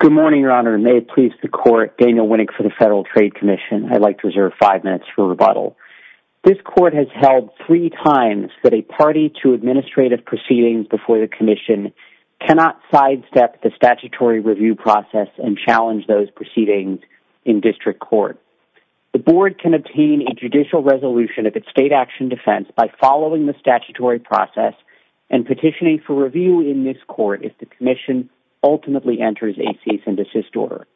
Good morning, Your Honor. May it please the Court, Daniel Winnick for the Federal Trade Commission. I'd like to reserve five minutes for rebuttal. This Court has held three times that a party to administrative proceedings before the Commission cannot sidestep the statutory review process and challenge those proceedings in District Court. The Board can obtain a judicial resolution of its state action defense by following the statutory process and petitioning for review in this Court if the Commission ultimately enters a cease and desist order.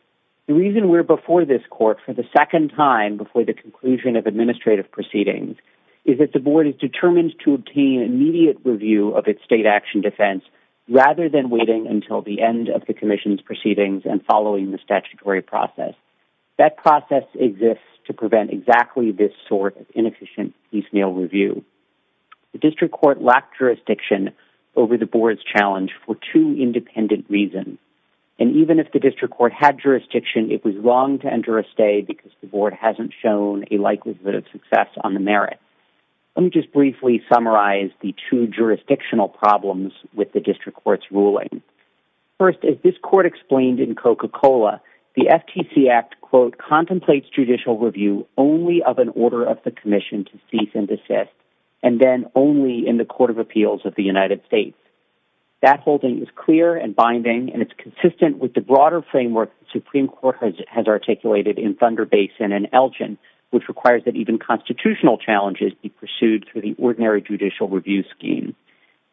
The reason we're before this Court for the second time before the conclusion of administrative proceedings is that the Board is determined to obtain immediate review of its state action defense rather than waiting until the end of the Commission's proceedings and following the statutory process. That process exists to prevent exactly this sort of inefficient review. The District Court lacked jurisdiction over the Board's challenge for two independent reasons. And even if the District Court had jurisdiction, it was wrong to enter a stay because the Board hasn't shown a likelihood of success on the merit. Let me just briefly summarize the two jurisdictional problems with the District Court's ruling. First, as this Court explained in Coca-Cola, the FTC Act, quote, contemplates judicial review only of an order of the Commission to cease and desist and then only in the Court of Appeals of the United States. That holding is clear and binding, and it's consistent with the broader framework the Supreme Court has articulated in Thunder Basin and Elgin, which requires that even constitutional challenges be pursued through the ordinary judicial review scheme.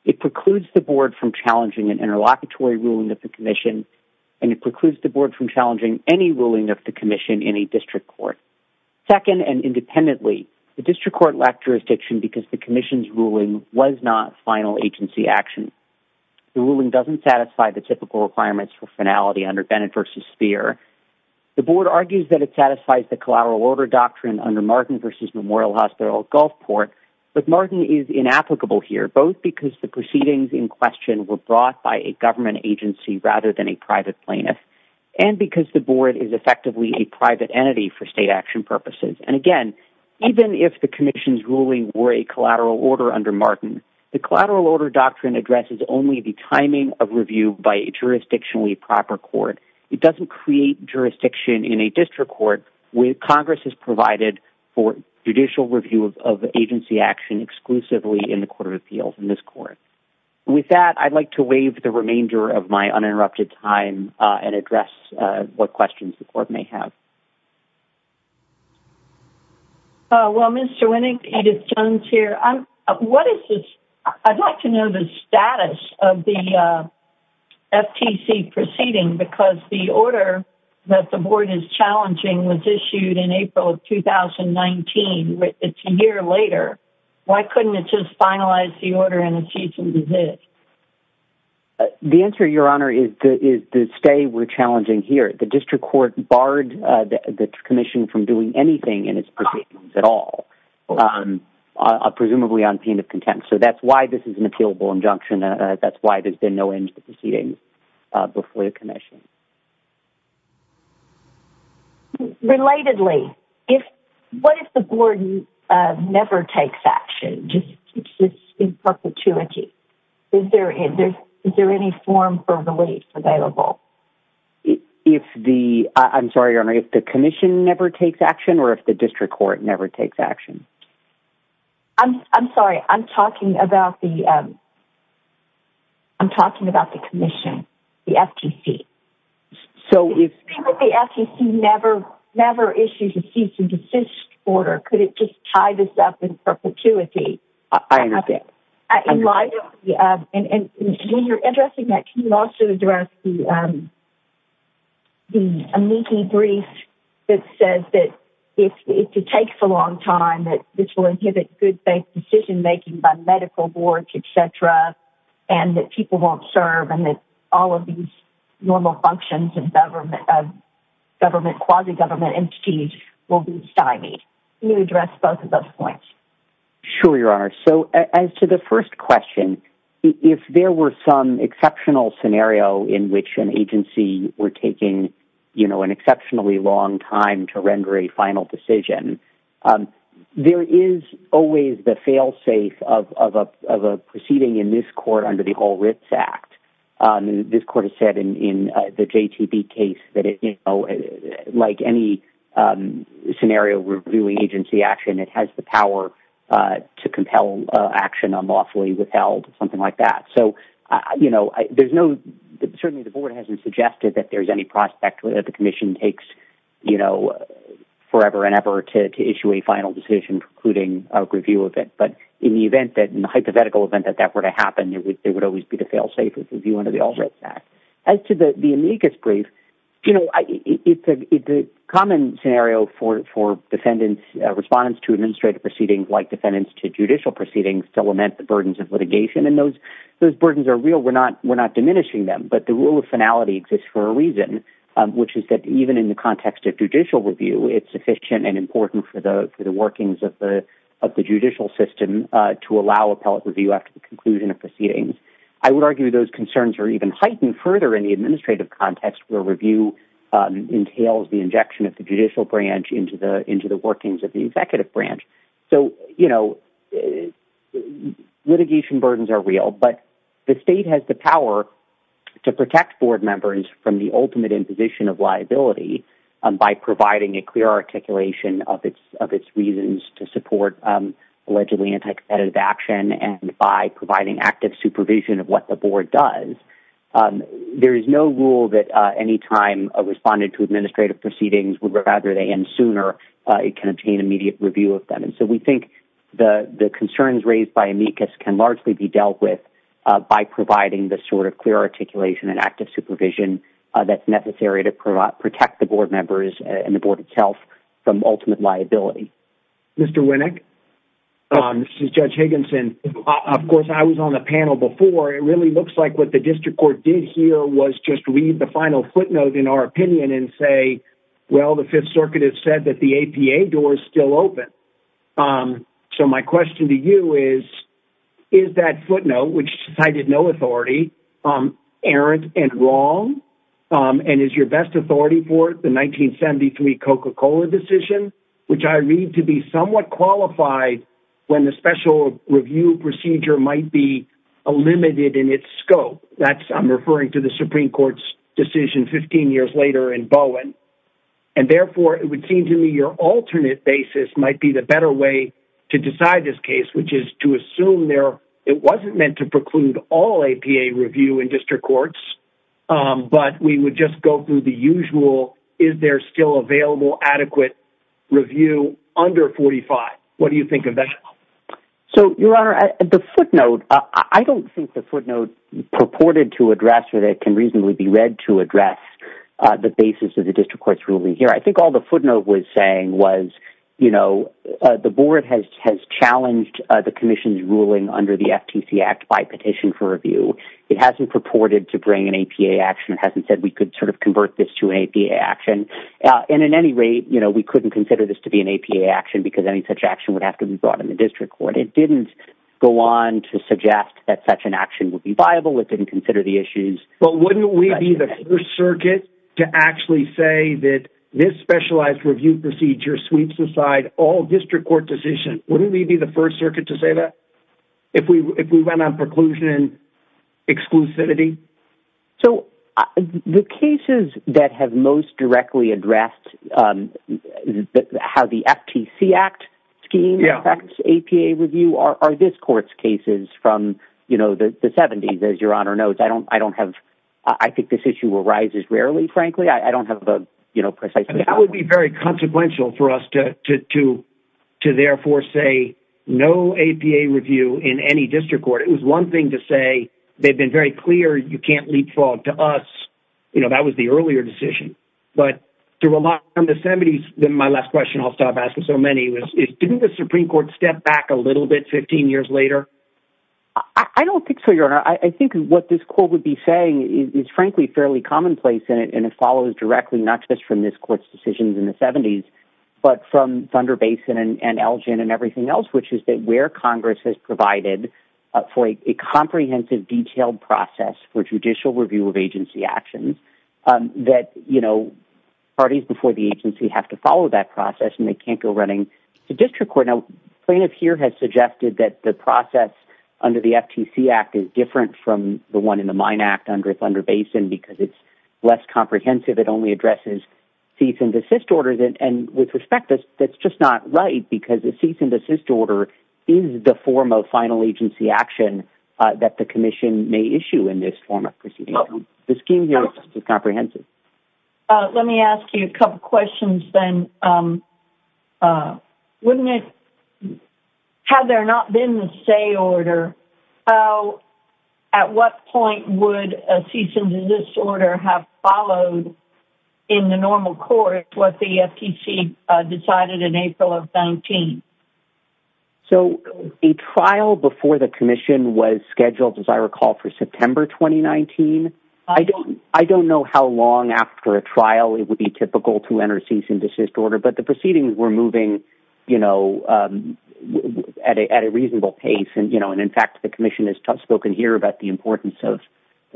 It precludes the Board from challenging an interlocutory ruling of the Commission, and it precludes the Board from challenging any ruling of the Commission in a District Court. Second, and independently, the District Court lacked jurisdiction because the Commission's ruling was not final agency action. The ruling doesn't satisfy the typical requirements for finality under Bennett v. Speer. The Board argues that it satisfies the collateral order doctrine under Martin v. Memorial Hospital Gulfport, but Martin is inapplicable here, both because the proceedings in question were brought by a government agency rather than a private plaintiff, and because the Board is effectively a private entity for state action purposes. And again, even if the Commission's ruling were a collateral order under Martin, the collateral order doctrine addresses only the timing of review by a jurisdictionally proper court. It doesn't create jurisdiction in a District Court where Congress has provided for judicial review of agency action exclusively in the Court of Appeals, in this Court. With that, I'd like to waive the remainder of my uninterrupted time and address what questions the Court may have. Well, Mr. Winnick, Edith Jones here. I'd like to know the status of the FTC proceeding, because the order that the Board is challenging was issued in April of 2019. It's a year later. Why couldn't it just finalize the order in a few days? The answer, Your Honor, is the stay we're challenging here. The District Court barred the Commission from doing anything in its proceedings at all, presumably on pain of contempt. So that's why this is an appealable injunction. That's why there's been no end to the proceedings before the Commission. Relatedly, what if the Board never takes action, just keeps this in perpetuity? Is there any form for relief available? I'm sorry, Your Honor, if the Commission never takes action, or if the District Court never takes action? I'm sorry. I'm talking about the Commission, the FTC. So if the FTC never issues a cease-and-desist order, could it just tie this up in perpetuity? I understand. And when you're addressing that, can you also address the amici brief that says that if it takes a long time, that this will inhibit good-faith decision-making by medical boards, et cetera, and that people won't serve, and that all of these normal functions of quasi-government entities will be stymied? Can you address both of those points? Sure, Your Honor. So as to the first question, if there were some exceptional scenario in which an amici brief inhibits good-faith decision, there is always the fail-safe of a proceeding in this court under the Whole Rights Act. This Court has said in the JTB case that, like any scenario where we're doing agency action, it has the power to compel action unlawfully withheld, something like that. So there's no—certainly, the Board hasn't suggested that there's any prospect that the Commission takes, you know, forever and ever to issue a final decision, precluding a review of it. But in the event that—in the hypothetical event that that were to happen, it would always be the fail-safe of the view under the All Rights Act. As to the amicus brief, you know, it's a common scenario for defendants—respondents to administrative proceedings, like defendants to judicial proceedings, to lament the burdens of litigation. And those burdens are real. We're not diminishing them, but the rule of finality exists for a reason, which is that even in the context of judicial review, it's sufficient and important for the workings of the judicial system to allow appellate review after the conclusion of proceedings. I would argue those concerns are even heightened further in the administrative context where review entails the injection of the judicial branch into the workings of the executive branch. So, you know, litigation burdens are real, but the state has the power to protect board members from the ultimate imposition of liability by providing a clear articulation of its reasons to support allegedly anti-competitive action and by providing active supervision of what the board does. There is no rule that any time a respondent to administrative proceedings would rather they end sooner. It can obtain immediate review of them. And so we think the concerns raised by amicus can largely be dealt with by providing the sort of clear articulation and active supervision that's necessary to protect the board members and the board itself from ultimate liability. Mr. Winnick? This is Judge Higginson. Of course, I was on the panel before. It really looks like what the district court did here was just read the final footnote in our opinion and say, well, the Fifth Circuit has said that the APA door is still open. So my question to you is, is that footnote, which cited no authority, errant and wrong? And is your best authority for the 1973 Coca-Cola decision, which I read to be somewhat qualified when the special review procedure might be limited in its scope? That's, I'm referring to the Supreme Court's decision 15 years later in Bowen. And therefore, it would seem to me your alternate basis might be the better way to decide this case, which is to assume there, it wasn't meant to preclude all APA review in district courts. But we would just go through the usual, is there still available adequate review under 45? What do you think of that? So, Your Honor, the footnote, I don't think the footnote purported to address or that can reasonably be read to address the basis of the district court's ruling here. I think all the you know, the board has challenged the commission's ruling under the FTC Act by petition for review. It hasn't purported to bring an APA action. It hasn't said we could sort of convert this to an APA action. And in any rate, you know, we couldn't consider this to be an APA action because any such action would have to be brought in the district court. It didn't go on to suggest that such an action would be viable. It didn't consider the issues. But wouldn't we be the first circuit to actually say that this specialized review procedure sweeps aside all district court decision? Wouldn't we be the first circuit to say that if we went on preclusion exclusivity? So the cases that have most directly addressed, how the FTC Act scheme affects APA review are this court's cases from, you know, the 70s, I don't have, I think this issue arises rarely, frankly, I don't have, you know, precisely. That would be very consequential for us to therefore say no APA review in any district court. It was one thing to say, they've been very clear. You can't leapfrog to us. You know, that was the earlier decision. But to rely on the 70s, then my last question I'll stop asking so many was, didn't the Supreme Court step back a little bit 15 years later? I don't think so, and I think what this court would be saying is frankly fairly commonplace in it, and it follows directly not just from this court's decisions in the 70s, but from Thunder Basin and Elgin and everything else, which is that where Congress has provided for a comprehensive detailed process for judicial review of agency actions that, you know, parties before the agency have to follow that process and they can't go running to district court. Now plaintiff here has suggested that the process under the FTC Act is different from the one in the Mine Act under Thunder Basin because it's less comprehensive. It only addresses cease and desist orders, and with respect, that's just not right because a cease and desist order is the form of final agency action that the commission may issue in this form of proceeding. The scheme here is just as comprehensive. Let me ask you a couple questions then. Had there not been the say order, at what point would a cease and desist order have followed in the normal court what the FTC decided in April of 19? So a trial before the commission was scheduled, as I recall, for September 2019. I don't know how long after a trial it would be typical to enter a cease and desist order, but the proceedings were moving, you know, at a reasonable pace and, you know, and in fact, the commission has spoken here about the importance of,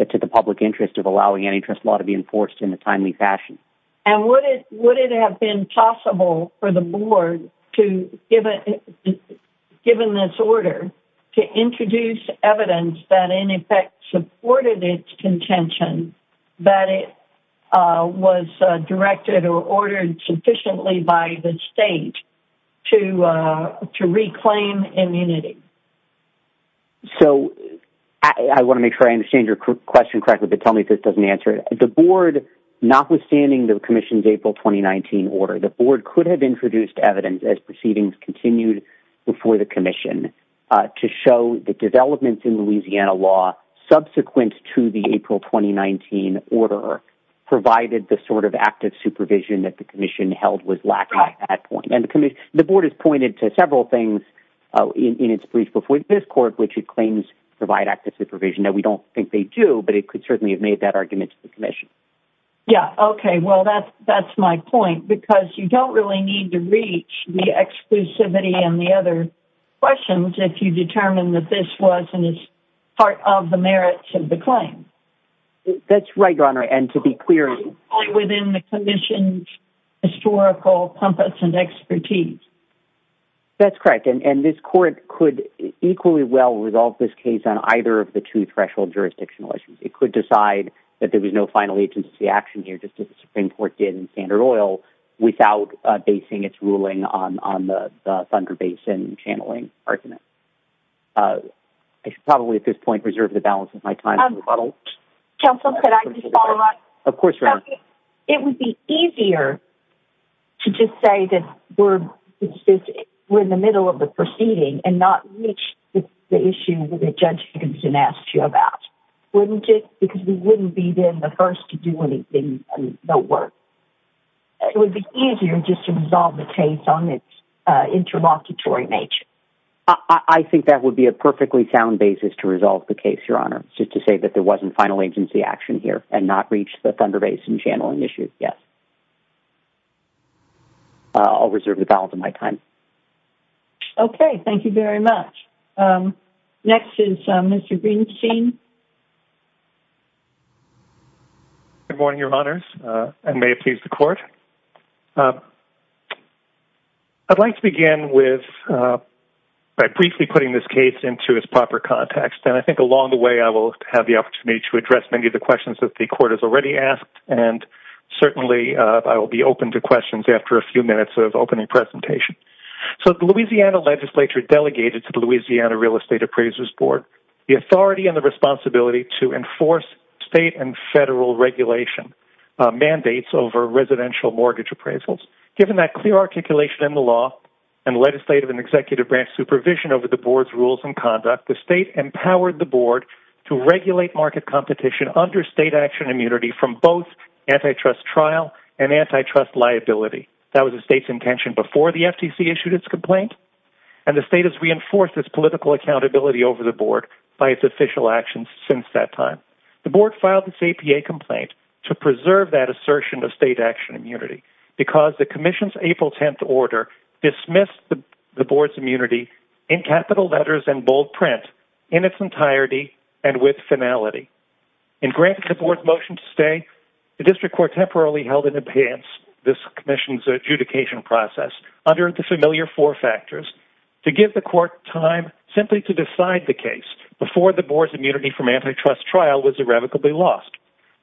to the public interest of allowing antitrust law to be enforced in a timely fashion. And would it have been possible for the intention that it was directed or ordered sufficiently by the state to reclaim immunity? So I want to make sure I understand your question correctly, but tell me if this doesn't answer it. The board, notwithstanding the commission's April 2019 order, the board could have introduced evidence as proceedings continued before the commission to show the developments in Louisiana law subsequent to the April 2019 order provided the sort of active supervision that the commission held was lacking at that point. And the board has pointed to several things in its brief before this court, which it claims provide active supervision that we don't think they do, but it could certainly have made that argument to the commission. Yeah. Okay. Well, that's my point because you don't really need to reach the exclusivity and other questions. If you determine that this wasn't as part of the merits of the claim. That's right, your honor. And to be clear within the commission historical compass and expertise. That's correct. And this court could equally well resolve this case on either of the two threshold jurisdictional issues. It could decide that there was no final agency action here just as the Supreme court did in standard oil without basing its ruling on the thunder basin channeling argument. I should probably at this point, reserve the balance of my time. Counsel, could I just follow up? Of course. It would be easier to just say that we're in the middle of the proceeding and not reach the issue with the judge Higginson asked you about wouldn't it? Because we wouldn't be then the first to do anything. No work. It would be easier just to resolve the case on its interlocutory nature. I think that would be a perfectly sound basis to resolve the case, your honor. Just to say that there wasn't final agency action here and not reach the thunder basin channeling issues. Yes. I'll reserve the balance of my time. Okay. Thank you very much. Next is Mr. Greenstein. Good morning, your honors. And may it please the court. I'd like to begin with by briefly putting this case into its proper context. And I think along the way, I will have the opportunity to address many of the questions that the court has already asked. And certainly, I will be open to questions after a few minutes of opening presentation. So the Louisiana legislature delegated to the Louisiana real estate appraisers board, the authority and the responsibility to enforce state and federal regulation mandates over residential mortgage appraisals. Given that clear articulation in the law and legislative and executive branch supervision over the board's rules and conduct, the state empowered the board to regulate market competition under state action immunity from both antitrust trial and antitrust liability. That was the state's intention before the FTC issued its complaint. And the state has reinforced its political accountability over the board by its official actions since that time. The board filed its APA complaint to preserve that assertion of state action immunity because the commission's April 10th order dismissed the board's immunity in capital letters and bold print in its entirety and with finality. In granting the board's motion to stay, the district court temporarily held in abeyance this commission's adjudication process under the familiar four factors to give the court time simply to decide the case before the board's immunity from antitrust trial was irrevocably lost.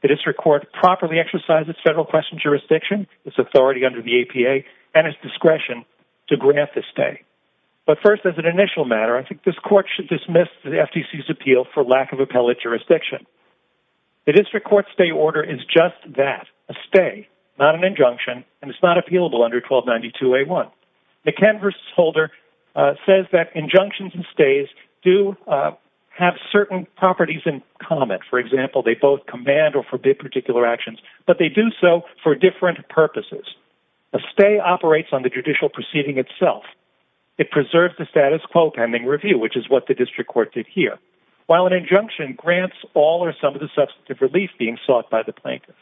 The district court properly exercised its federal question jurisdiction, its authority under the APA, and its discretion to grant the But first as an initial matter, I think this court should dismiss the FTC's appeal for lack of appellate jurisdiction. The district court stay order is just that, a stay, not an injunction, and it's not appealable under 1292A1. The canvas holder says that injunctions and stays do have certain properties in common. For example, they both command or forbid particular actions, but they do so for different purposes. A stay operates on the judicial proceeding itself. It preserves the status quo pending review, which is what the district court did here, while an injunction grants all or some of the substantive relief being sought by the plaintiff.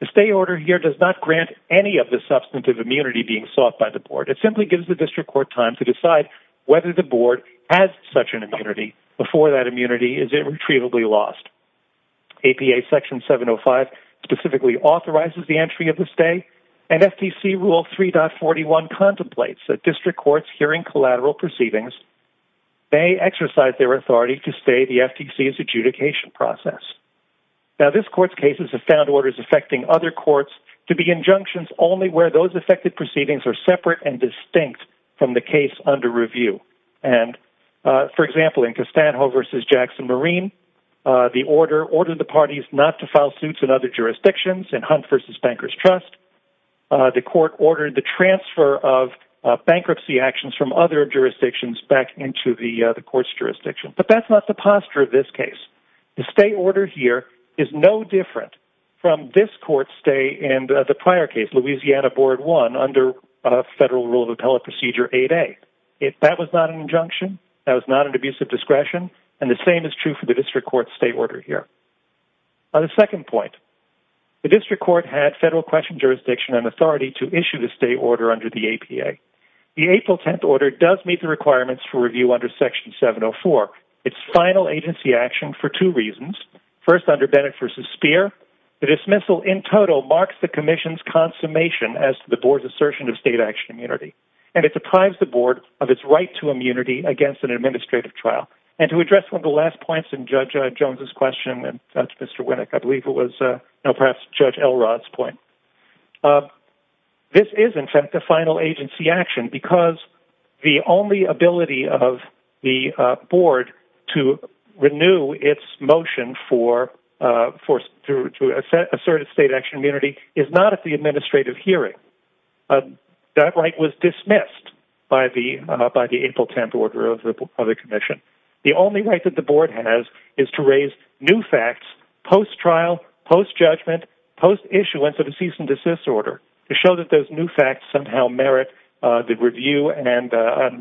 The stay order here does not grant any of the substantive immunity being sought by the board. It simply gives the district court time to decide whether the board has such an immunity before that immunity is irretrievably lost. APA section 705 specifically authorizes the entry of the stay, and FTC rule 3.41 contemplates that district courts hearing collateral proceedings may exercise their authority to stay the FTC's adjudication process. Now, this court's cases have found orders affecting other courts to be injunctions only where those affected proceedings are separate and distinct from the case under review. And, for example, in Costanjo v. Jackson Marine, the order ordered the parties not to file suits in other jurisdictions in Hunt v. Bankers Trust. The court ordered the transfer of bankruptcy actions from other jurisdictions back into the court's jurisdiction. But that's not the posture of this case. The stay order here is no different from this court's stay in the prior case, Louisiana Board 1, under Federal Rule of Appellate Procedure 8A. That was not an injunction. That was not an abusive discretion. And the same is true for the district court's stay order here. On the second point, the district court had federal question jurisdiction and authority to issue the stay order under the APA. The April 10th order does meet the requirements for review under section 704. It's final agency action for two reasons. First, under Bennett v. Speer, the dismissal in total marks the commission's consummation as to the board's assertion of state action immunity. And it deprives the board of its right to immunity against an administrative trial. And to address one of the last points in Judge Jones's question, and Judge Mr. Winnick, I believe it was perhaps Judge Elrod's point, this is, in fact, a final agency action because the only ability of the board to renew its motion for asserted state action immunity is not at the discretion. The only right that the board has is to raise new facts post-trial, post-judgment, post-issuance of a cease and desist order to show that those new facts somehow merit the review and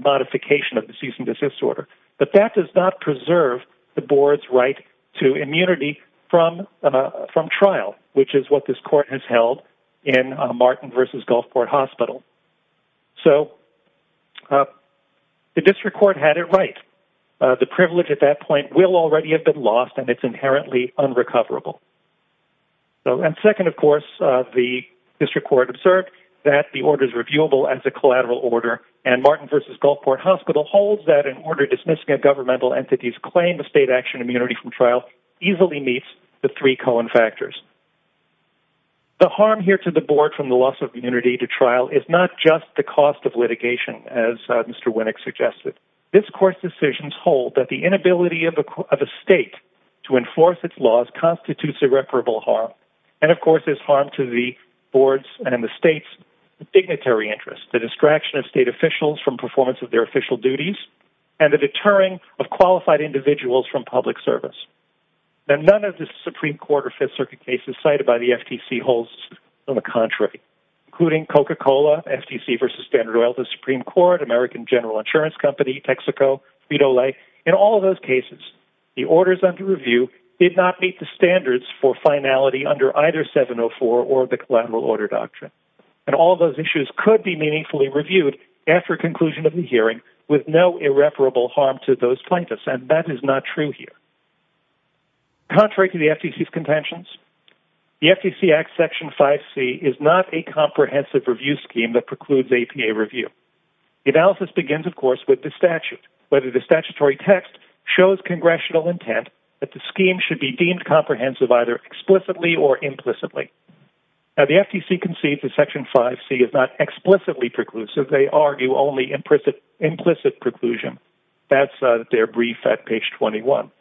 modification of the cease and desist order. But that does not preserve the board's right to immunity from trial, which is what this court has held in Martin v. Gulfport Hospital. So the district court had it right. The privilege at that point will already have been lost, and it's inherently unrecoverable. And second, of course, the district court observed that the order is reviewable as a collateral order, and Martin v. Gulfport Hospital holds that an order dismissing a governmental entity's claim of state action immunity from trial easily meets the three common factors. The harm here to the board from the loss of immunity to just the cost of litigation, as Mr. Winnick suggested. This court's decisions hold that the inability of a state to enforce its laws constitutes irreparable harm. And of course, there's harm to the board's and the state's dignitary interests, the distraction of state officials from performance of their official duties, and the deterring of qualified individuals from public service. And none of the Supreme Court or Fifth Circuit cases cited by the FTC holds on the contrary, including Coca-Cola, FTC v. Standard Oil, the Supreme Court, American General Insurance Company, Texaco, Frito-Lay. In all those cases, the orders under review did not meet the standards for finality under either 704 or the collateral order doctrine. And all those issues could be meaningfully reviewed after conclusion of the hearing with no irreparable harm to those plaintiffs, and that is not true here. Contrary to the FTC's contentions, the FTC Act Section 5C is not a comprehensive review scheme that precludes APA review. The analysis begins, of course, with the statute, whether the statutory text shows congressional intent that the scheme should be deemed comprehensive either explicitly or implicitly. Now, the FTC concedes that Section 5C is not explicitly preclusive. They argue only implicit preclusion. That's their brief at page 21.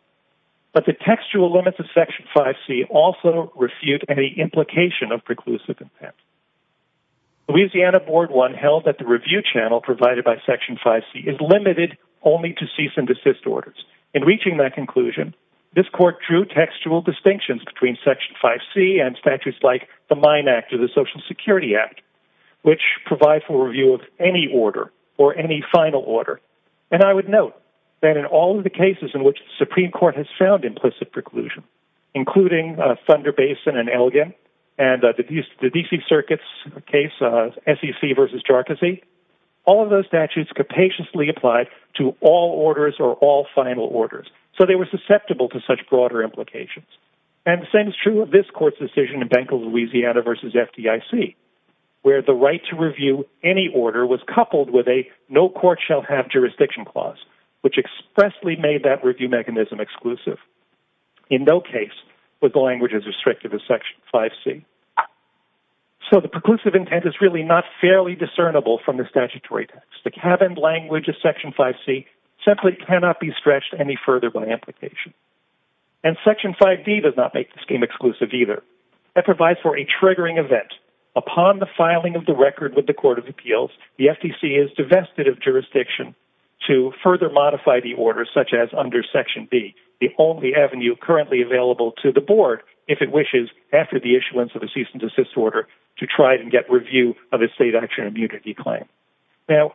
But the textual limits of Section 5C also refute any implication of preclusive intent. Louisiana Board 1 held that the review channel provided by Section 5C is limited only to cease and desist orders. In reaching that conclusion, this court drew textual distinctions between Section 5C and statutes like the Mine Act or the Social Security Act, which provide for review of any order or any final order. And I would note that in all of the cases in which the Supreme Court has found implicit preclusion, including Thunder Basin and Elgin and the D.C. Circuit's case of SEC v. Jarcozy, all of those statutes capaciously applied to all orders or all final orders, so they were susceptible to such broader implications. And the same is true of this court's decision in Bank of Louisiana v. FDIC, where the right to review any order was coupled with a no court shall have jurisdiction clause, which expressly made that review mechanism exclusive. In no case was the language as restrictive as Section 5C. So the preclusive intent is really not fairly discernible from the statutory text. The cabined language of Section 5C simply cannot be stretched any further by implication. And Section 5D does not make the scheme exclusive either. That provides for a triggering event. Upon the filing of the record with the Court of Appeals, the FDC is divested of jurisdiction to further modify the order, such as under Section B, the only avenue currently available to the Board, if it wishes, after the issuance of a cease and desist order to try to get review of a state action immunity claim. Now,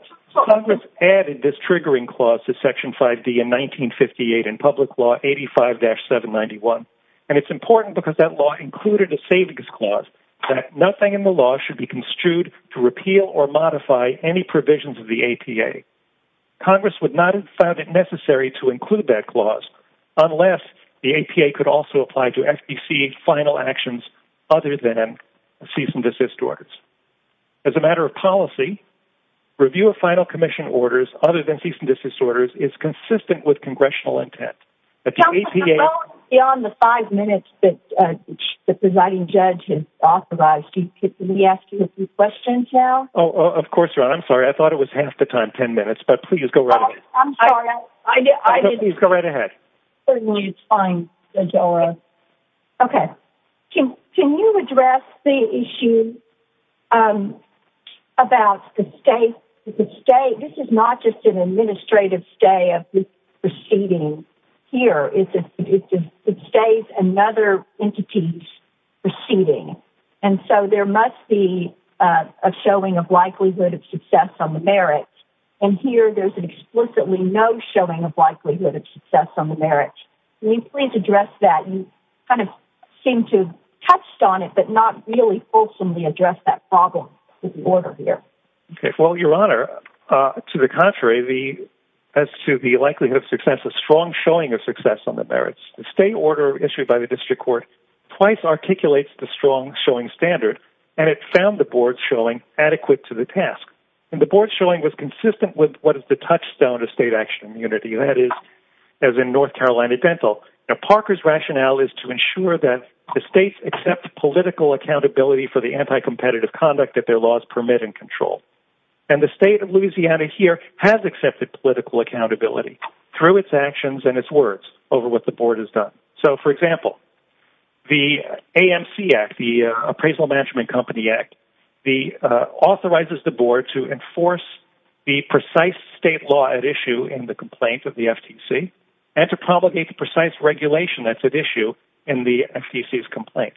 Congress added this triggering clause to Section 5D in 1958 in Public Law 85-791, and it's important because that law included a savings clause that nothing in the law should be construed to repeal or modify any provisions of the APA. Congress would not have found it necessary to include that clause unless the APA could also apply to FDC final actions other than cease and desist orders. As a matter of policy, review of final commission orders other than cease and desist orders is consistent with Congressional intent. But the APA... Counsel, the vote is beyond the five minutes that the presiding judge has authorized. Can we ask you a few questions now? Oh, of course, Ron. I'm sorry. I thought it was half the time, 10 minutes, but please go right ahead. I'm sorry. I didn't... Please go right ahead. Fine. Okay. Can you address the issue about the state... This is not just an administrative stay of this proceeding here. It's a state and other entities proceeding, and so there must be a showing of likelihood of success on the merits, and here there's an explicitly no showing of likelihood of success on the merits. Can you please address that? You kind of seem to have touched on it, but not really fulsomely address that problem with the order here. Okay. Well, Your Honor, to the contrary, as to the likelihood of success, a strong showing of success on the merits, the state order issued by the district court twice articulates the strong showing standard, and it found the board's showing adequate to the task, and the board's showing was consistent with what is the touchstone of state action unity. That is, as in North Carolina Dental, Parker's rationale is to ensure that the states accept political accountability for the anti-competitive conduct that their laws permit and control, and the state of Louisiana here has accepted political accountability through its actions and its words over what the board has So, for example, the AMC Act, the Appraisal Management Company Act, authorizes the board to enforce the precise state law at issue in the complaint of the FTC and to promulgate the precise regulation that's at issue in the FTC's complaint.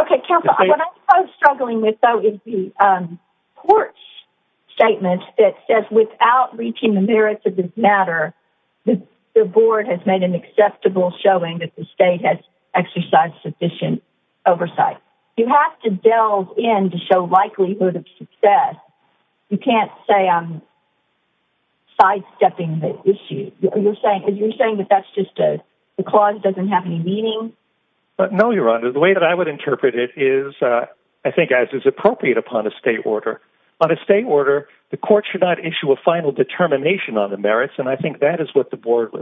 Okay, counsel, what I'm struggling with, though, is the court's statement that says without reaching the merits of this matter, the board has made an acceptable showing that the state has exercised sufficient oversight. You have to delve in to show likelihood of success. You can't say I'm sidestepping the issue. You're saying that that's just a clause that doesn't have any meaning? No, Your Honor. The way that I would interpret it is, I think as is appropriate upon a state order. On a state order, the court should not issue a final determination on the merits, and I think that is what the court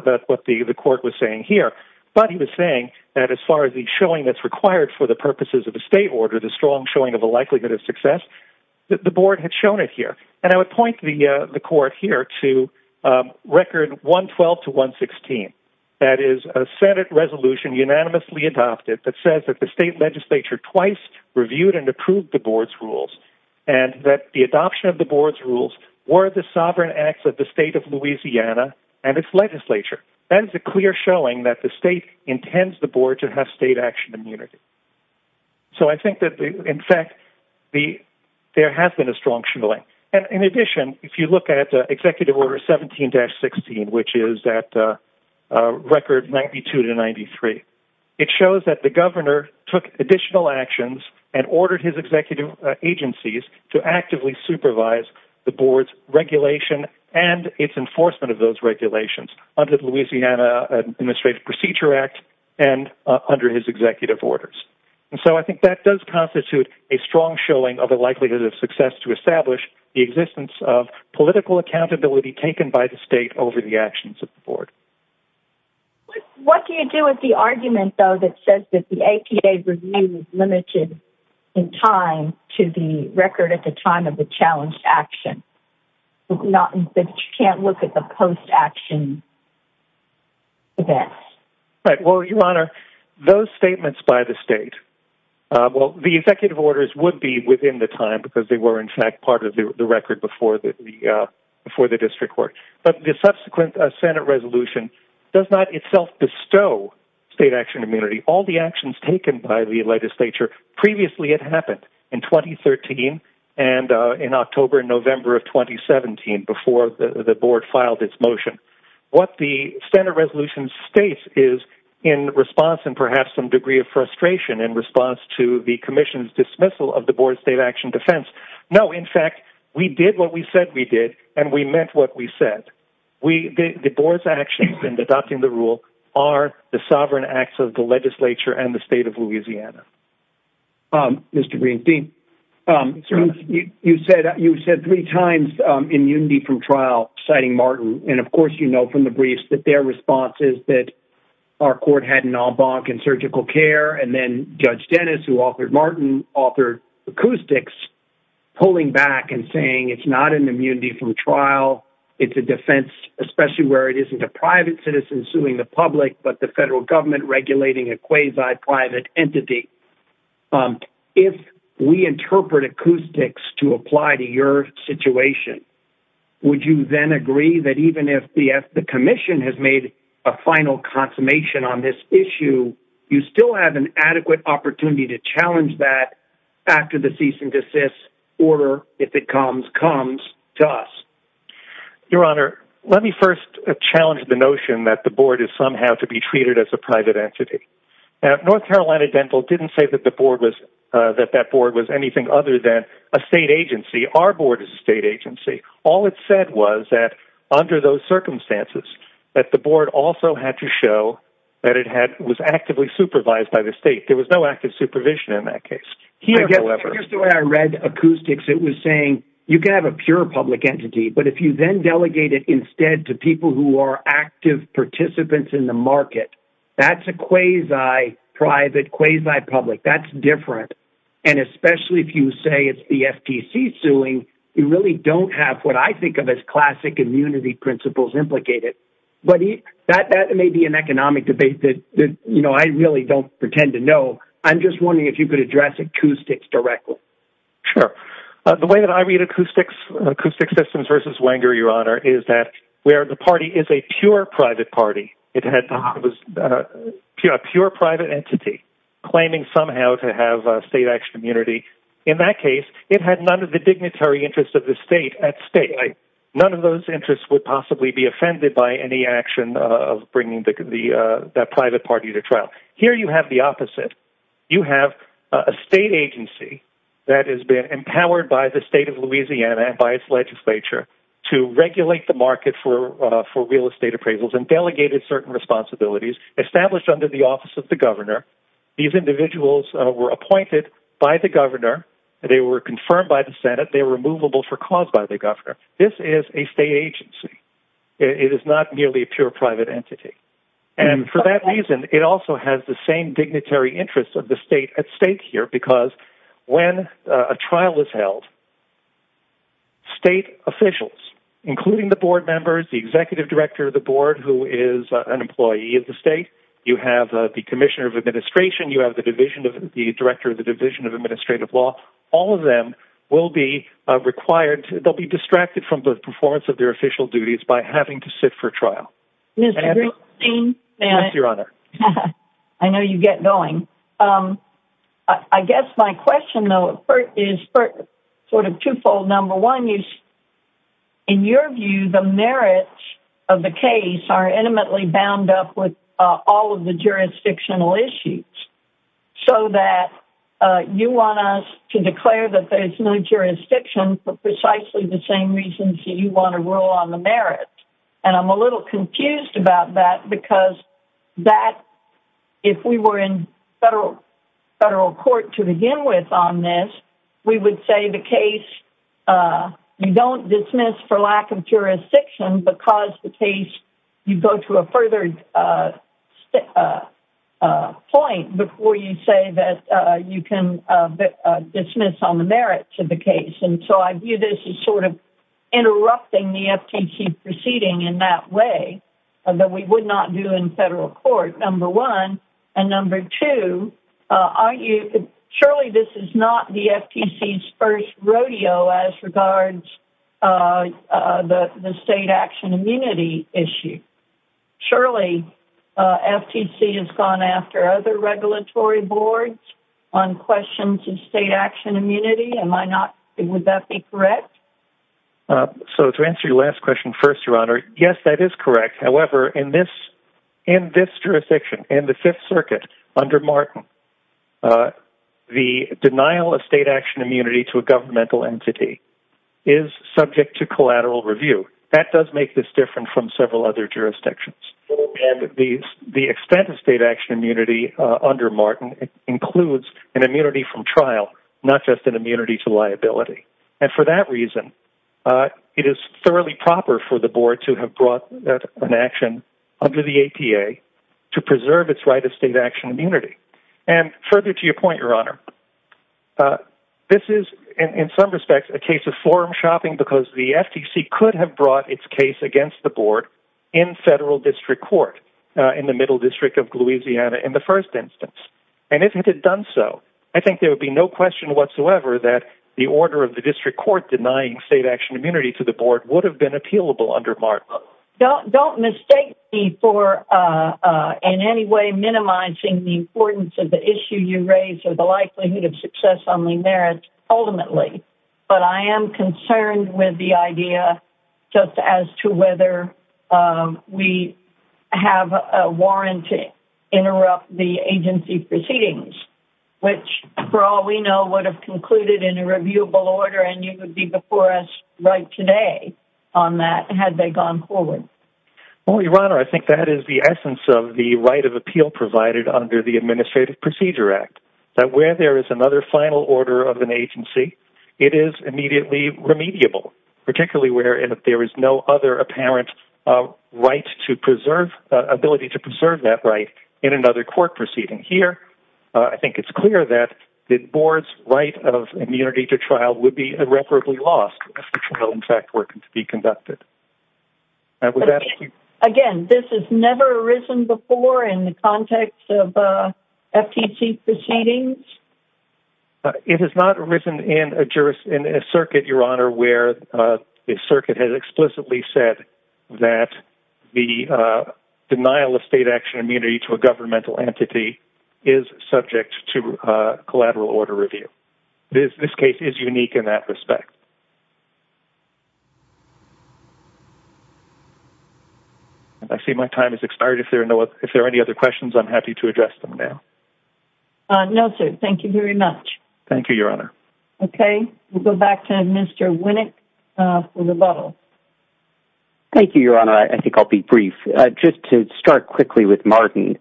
was saying here. But he was saying that as far as the showing that's required for the purposes of a state order, the strong showing of a likelihood of success, the board had shown it here. And I would point the court here to Record 112-116. That is, a Senate resolution unanimously adopted that says that the state legislature twice reviewed and approved the board's rules, and that the adoption of the board's rules were the sovereign acts of the state of Louisiana and its legislature. That is a clear showing that the state intends the board to have state action immunity. So I think that, in fact, there has been a strong showing. And in addition, if you look at Executive Order 17-16, which is at Record 92-93, it shows that the governor took additional actions and ordered his executive agencies to actively supervise the board's regulation and its enforcement of those regulations under the Louisiana Administrative Procedure Act and under his executive orders. And so I think that does constitute a strong showing of the likelihood of success to establish the existence of political accountability taken by the state over the actions of the board. What do you do with the argument, though, that says that the APA review is limited in time to the record at the time of the challenged action, not that you can't look at the post-action event? Right. Well, Your Honor, those statements by the state — well, the executive orders would be within the time because they were, in fact, part of the record before the district court. But the subsequent Senate resolution does not itself bestow state action immunity. All the actions taken by the legislature previously had happened in 2013 and in October and November of 2017, before the board filed its motion. What the Senate resolution states is, in response and perhaps some degree of frustration in response to the commission's dismissal of the board's action defense, no, in fact, we did what we said we did and we meant what we said. The board's actions in adopting the rule are the sovereign acts of the legislature and the state of Louisiana. Mr. Greenstein, you said three times immunity from trial, citing Martin. And of course, you know from the briefs that their response is that our court had an en banc in surgical care. And then Judge Dennis, who authored Martin, authored acoustics, pulling back and saying it's not an immunity from trial. It's a defense, especially where it isn't a private citizen suing the public, but the federal government regulating a quasi-private entity. If we interpret acoustics to apply to your situation, would you then agree that even if the commission has made a final consummation on this issue, you still have an adequate opportunity to challenge that after the cease and desist order, if it comes, comes to us? Your Honor, let me first challenge the notion that the board is somehow to be treated as a private entity. North Carolina Dental didn't say that that board was anything other than a state agency. Our board is a state agency. All it said was that under those circumstances, that the board also had to show that it was actively supervised by the state. There was no active supervision in that case. Here's the way I read acoustics. It was saying you can have a pure public entity, but if you then delegate it instead to people who are active participants in the market, that's a quasi-private, quasi-public. That's different. And especially if you say it's the FTC suing, you really don't have what I think of as classic immunity principles implicated. But that may be an economic debate that, you know, I really don't pretend to know. I'm just wondering if you could address acoustics directly. Sure. The way that I read acoustics, acoustic systems versus Wenger, Your Honor, is that where the party is a pure private party, it had, it was a pure private entity claiming somehow to have a state action immunity. In that case, it had none of the dignitary interests of the state at stake. None of those interests would possibly be offended by any action of bringing that private party to trial. Here you have the opposite. You have a state agency that has been empowered by the state of Louisiana and by its legislature to regulate the market for real estate appraisals and delegated certain responsibilities established under the office of the governor. These individuals were appointed by the governor. They were confirmed by the Senate. They were removable for cause by the governor. This is a state agency. It is not merely a pure private entity. And for that reason, it also has the same dignitary interests of the state at stake here because when a trial is held, state officials, including the board members, the executive director of the board who is an employee of the state, you have the commissioner of administration, you have the division of, the director of the division of administrative law, all of them will be required to, they'll be distracted from the performance of their official duties by having to sit for trial. I know you get going. I guess my question though is sort of twofold. Number one is in your view, the merits of the case are intimately bound up with all of the jurisdictional issues. So that you want us to declare that there's no jurisdiction for precisely the same reasons that you want to rule on the merits. And I'm a little confused about that because that if we were in federal court to begin with on this, we would say the case, you don't dismiss for lack of jurisdiction because the case, you go to a further point before you say that you can dismiss on the merits of the case. And so I view this as sort of interrupting the FTC proceeding in that way that we would not do in federal court, number one. And number two, surely this is not the FTC's first rodeo as regards the state action immunity issue. Surely FTC has gone after other regulatory boards on questions of state action immunity. Would that be correct? So to answer your last question first, your honor, yes, that is correct. However, in this jurisdiction, in the fifth circuit under Martin, the denial of state action immunity to a governmental entity is subject to collateral review. That does make this different from several other jurisdictions. And the extent of state action immunity under Martin includes an immunity from trial, not just an immunity to liability. And for that reason, it is thoroughly proper for the board to have brought an action under the APA to preserve its right of state action immunity. And further to your point, your honor, this is in some respects a case of forum shopping because the FTC could have brought its case against the board in federal district court in the middle district of Louisiana in the first instance. And if it had done so, I think there would be no question whatsoever that the order of the district court denying state action immunity to the board would have been appealable under Martin. Don't mistake me for in any way minimizing the importance of the issue you raised or the likelihood of success on the merits ultimately. But I am concerned with the idea just as to whether we have a warrant to interrupt the agency proceedings, which for all we know would have concluded in a reviewable order and you would be before us right today on that had they gone forward. Well, your honor, I think that is the essence of the right of appeal provided under the Administrative Procedure Act, that where there is another final order of an agency, it is immediately remediable, particularly where there is no other apparent right to preserve ability to preserve that right in another court proceeding. Here, I think it's clear that the board's right of immunity to trial would be irreparably lost if the trial, in fact, were to be in the context of FTC proceedings. It has not arisen in a circuit, your honor, where the circuit has explicitly said that the denial of state action immunity to a governmental entity is subject to collateral order review. This case is unique in that respect. I see my time has expired. If there are any other questions, I'm happy to address them now. No, sir. Thank you very much. Thank you, your honor. Okay. We'll go back to Mr. Winnick for rebuttal. Thank you, your honor. I think I'll be brief. Just to start quickly with Martin.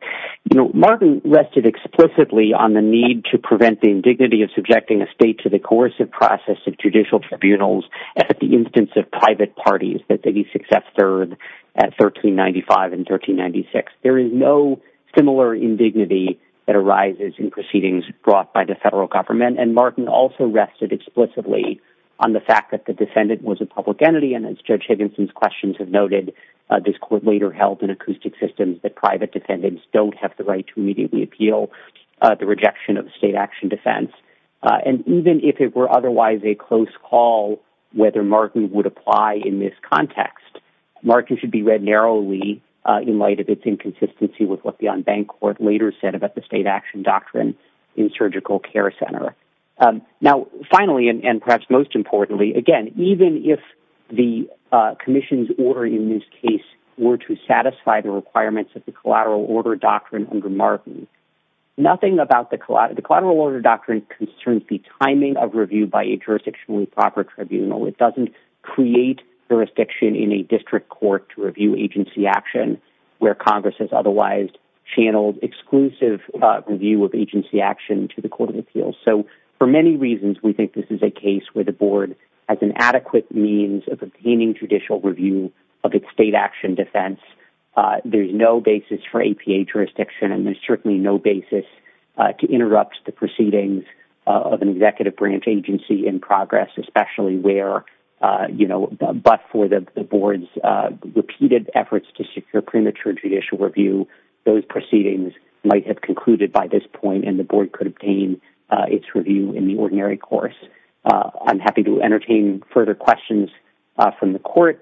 Martin rested explicitly on the need to prevent the indignity of subjecting a state to the coercive process of judicial tribunals at the instance of private parties that they be successful at 1395 and 1396. There is no similar indignity that arises in proceedings brought by the federal government. And Martin also rested explicitly on the fact that the defendant was a public entity. And as Judge Higginson's questions have noted, this court later held in acoustic systems that private defendants don't have the right to immediately appeal the rejection of state action defense. And even if it were otherwise a close call whether Martin would apply in this context, Martin should be read narrowly in light of its inconsistency with what the unbanked court later said about the state action doctrine in surgical care center. Now, finally, and perhaps most importantly, again, even if the commission's order in this case were to satisfy the requirements of collateral order doctrine under Martin, nothing about the collateral order doctrine concerns the timing of review by a jurisdictionally proper tribunal. It doesn't create jurisdiction in a district court to review agency action where Congress has otherwise channeled exclusive review of agency action to the court of appeals. So for many reasons, we think this is a case where the board has an adequate means of obtaining judicial review of its state action defense. There's no basis for APA jurisdiction and there's certainly no basis to interrupt the proceedings of an executive branch agency in progress, especially where, you know, but for the board's repeated efforts to secure premature judicial review, those proceedings might have concluded by this point and the board could obtain its review in the ordinary course. I'm happy to entertain further questions from the court.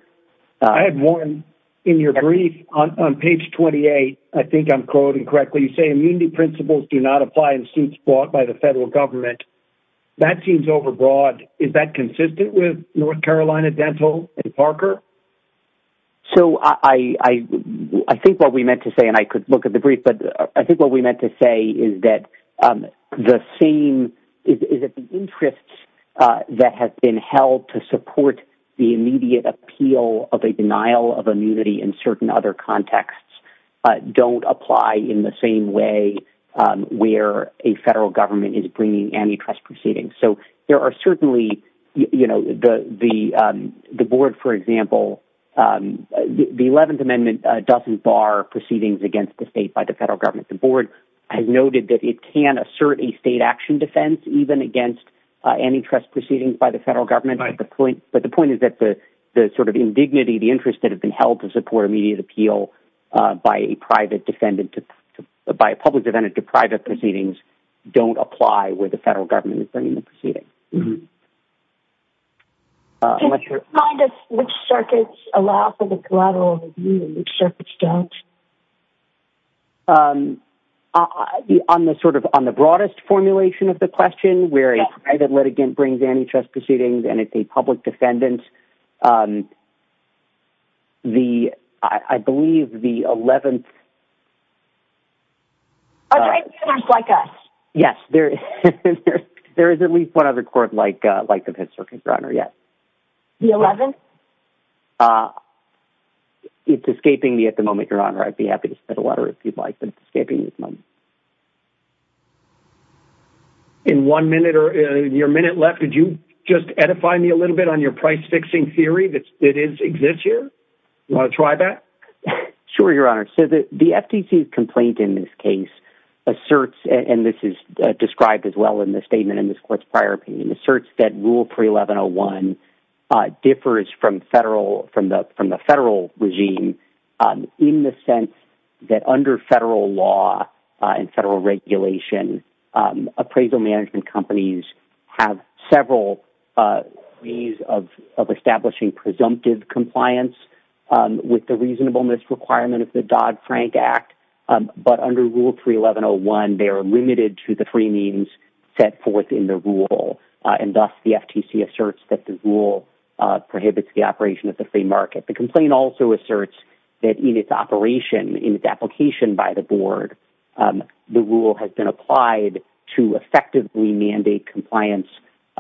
I had one in your brief on page 28. I think I'm quoting correctly. You say immunity principles do not apply in suits bought by the federal government. That seems overbroad. Is that consistent with North Carolina Dental and Parker? So I think what we meant to say, and I could look at the brief, but I think what we meant to say is that the same is that the interests that have been held to support the immediate appeal of a denial of immunity in certain other contexts don't apply in the same way where a federal government is bringing antitrust proceedings. So there are certainly, you know, the board, for example, the 11th Amendment doesn't bar proceedings against the state by the federal government. The board has noted that it can assert a state action defense, even against antitrust proceedings by the federal government. But the point is that the sort of indignity, the interest that have been held to support immediate appeal by a public defendant to private proceedings don't apply where the federal government is bringing the proceedings. Can you remind us which circuits allow for that? The broadest formulation of the question where a private litigant brings antitrust proceedings and it's a public defendant. The, I believe the 11th. Yes, there is. There is at least one other court like like the Fifth Circuit, Your Honor. Yes. The 11th. It's escaping me at the moment, Your Honor. I'd be happy to if you'd like, but it's escaping me at the moment. In one minute or your minute left, could you just edify me a little bit on your price fixing theory that exists here? You want to try that? Sure, Your Honor. So the FTC's complaint in this case asserts, and this is described as well in the statement in this court's prior opinion, asserts that Rule 31101 differs from federal, from the federal regime in the sense that under federal law and federal regulation, appraisal management companies have several ways of establishing presumptive compliance with the reasonableness requirement of the Dodd-Frank Act. But under Rule 31101, they are limited to the free means set forth in the rule. And thus, the FTC asserts that the rule prohibits the operation of the free market. The complaint also asserts that in its operation, in its application by the board, the rule has been applied to effectively mandate compliance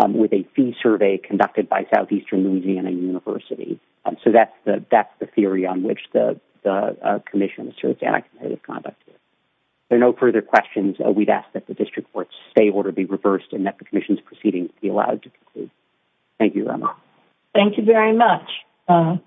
with a fee survey conducted by Southeastern Louisiana University. So that's the theory on which the commission asserts anti-competitive conduct. There are no further questions. We'd ask that the district court's stay order be reversed and that the commission's proceedings be allowed to conclude. Thank you, Your Honor. Thank you very much. Goodbye.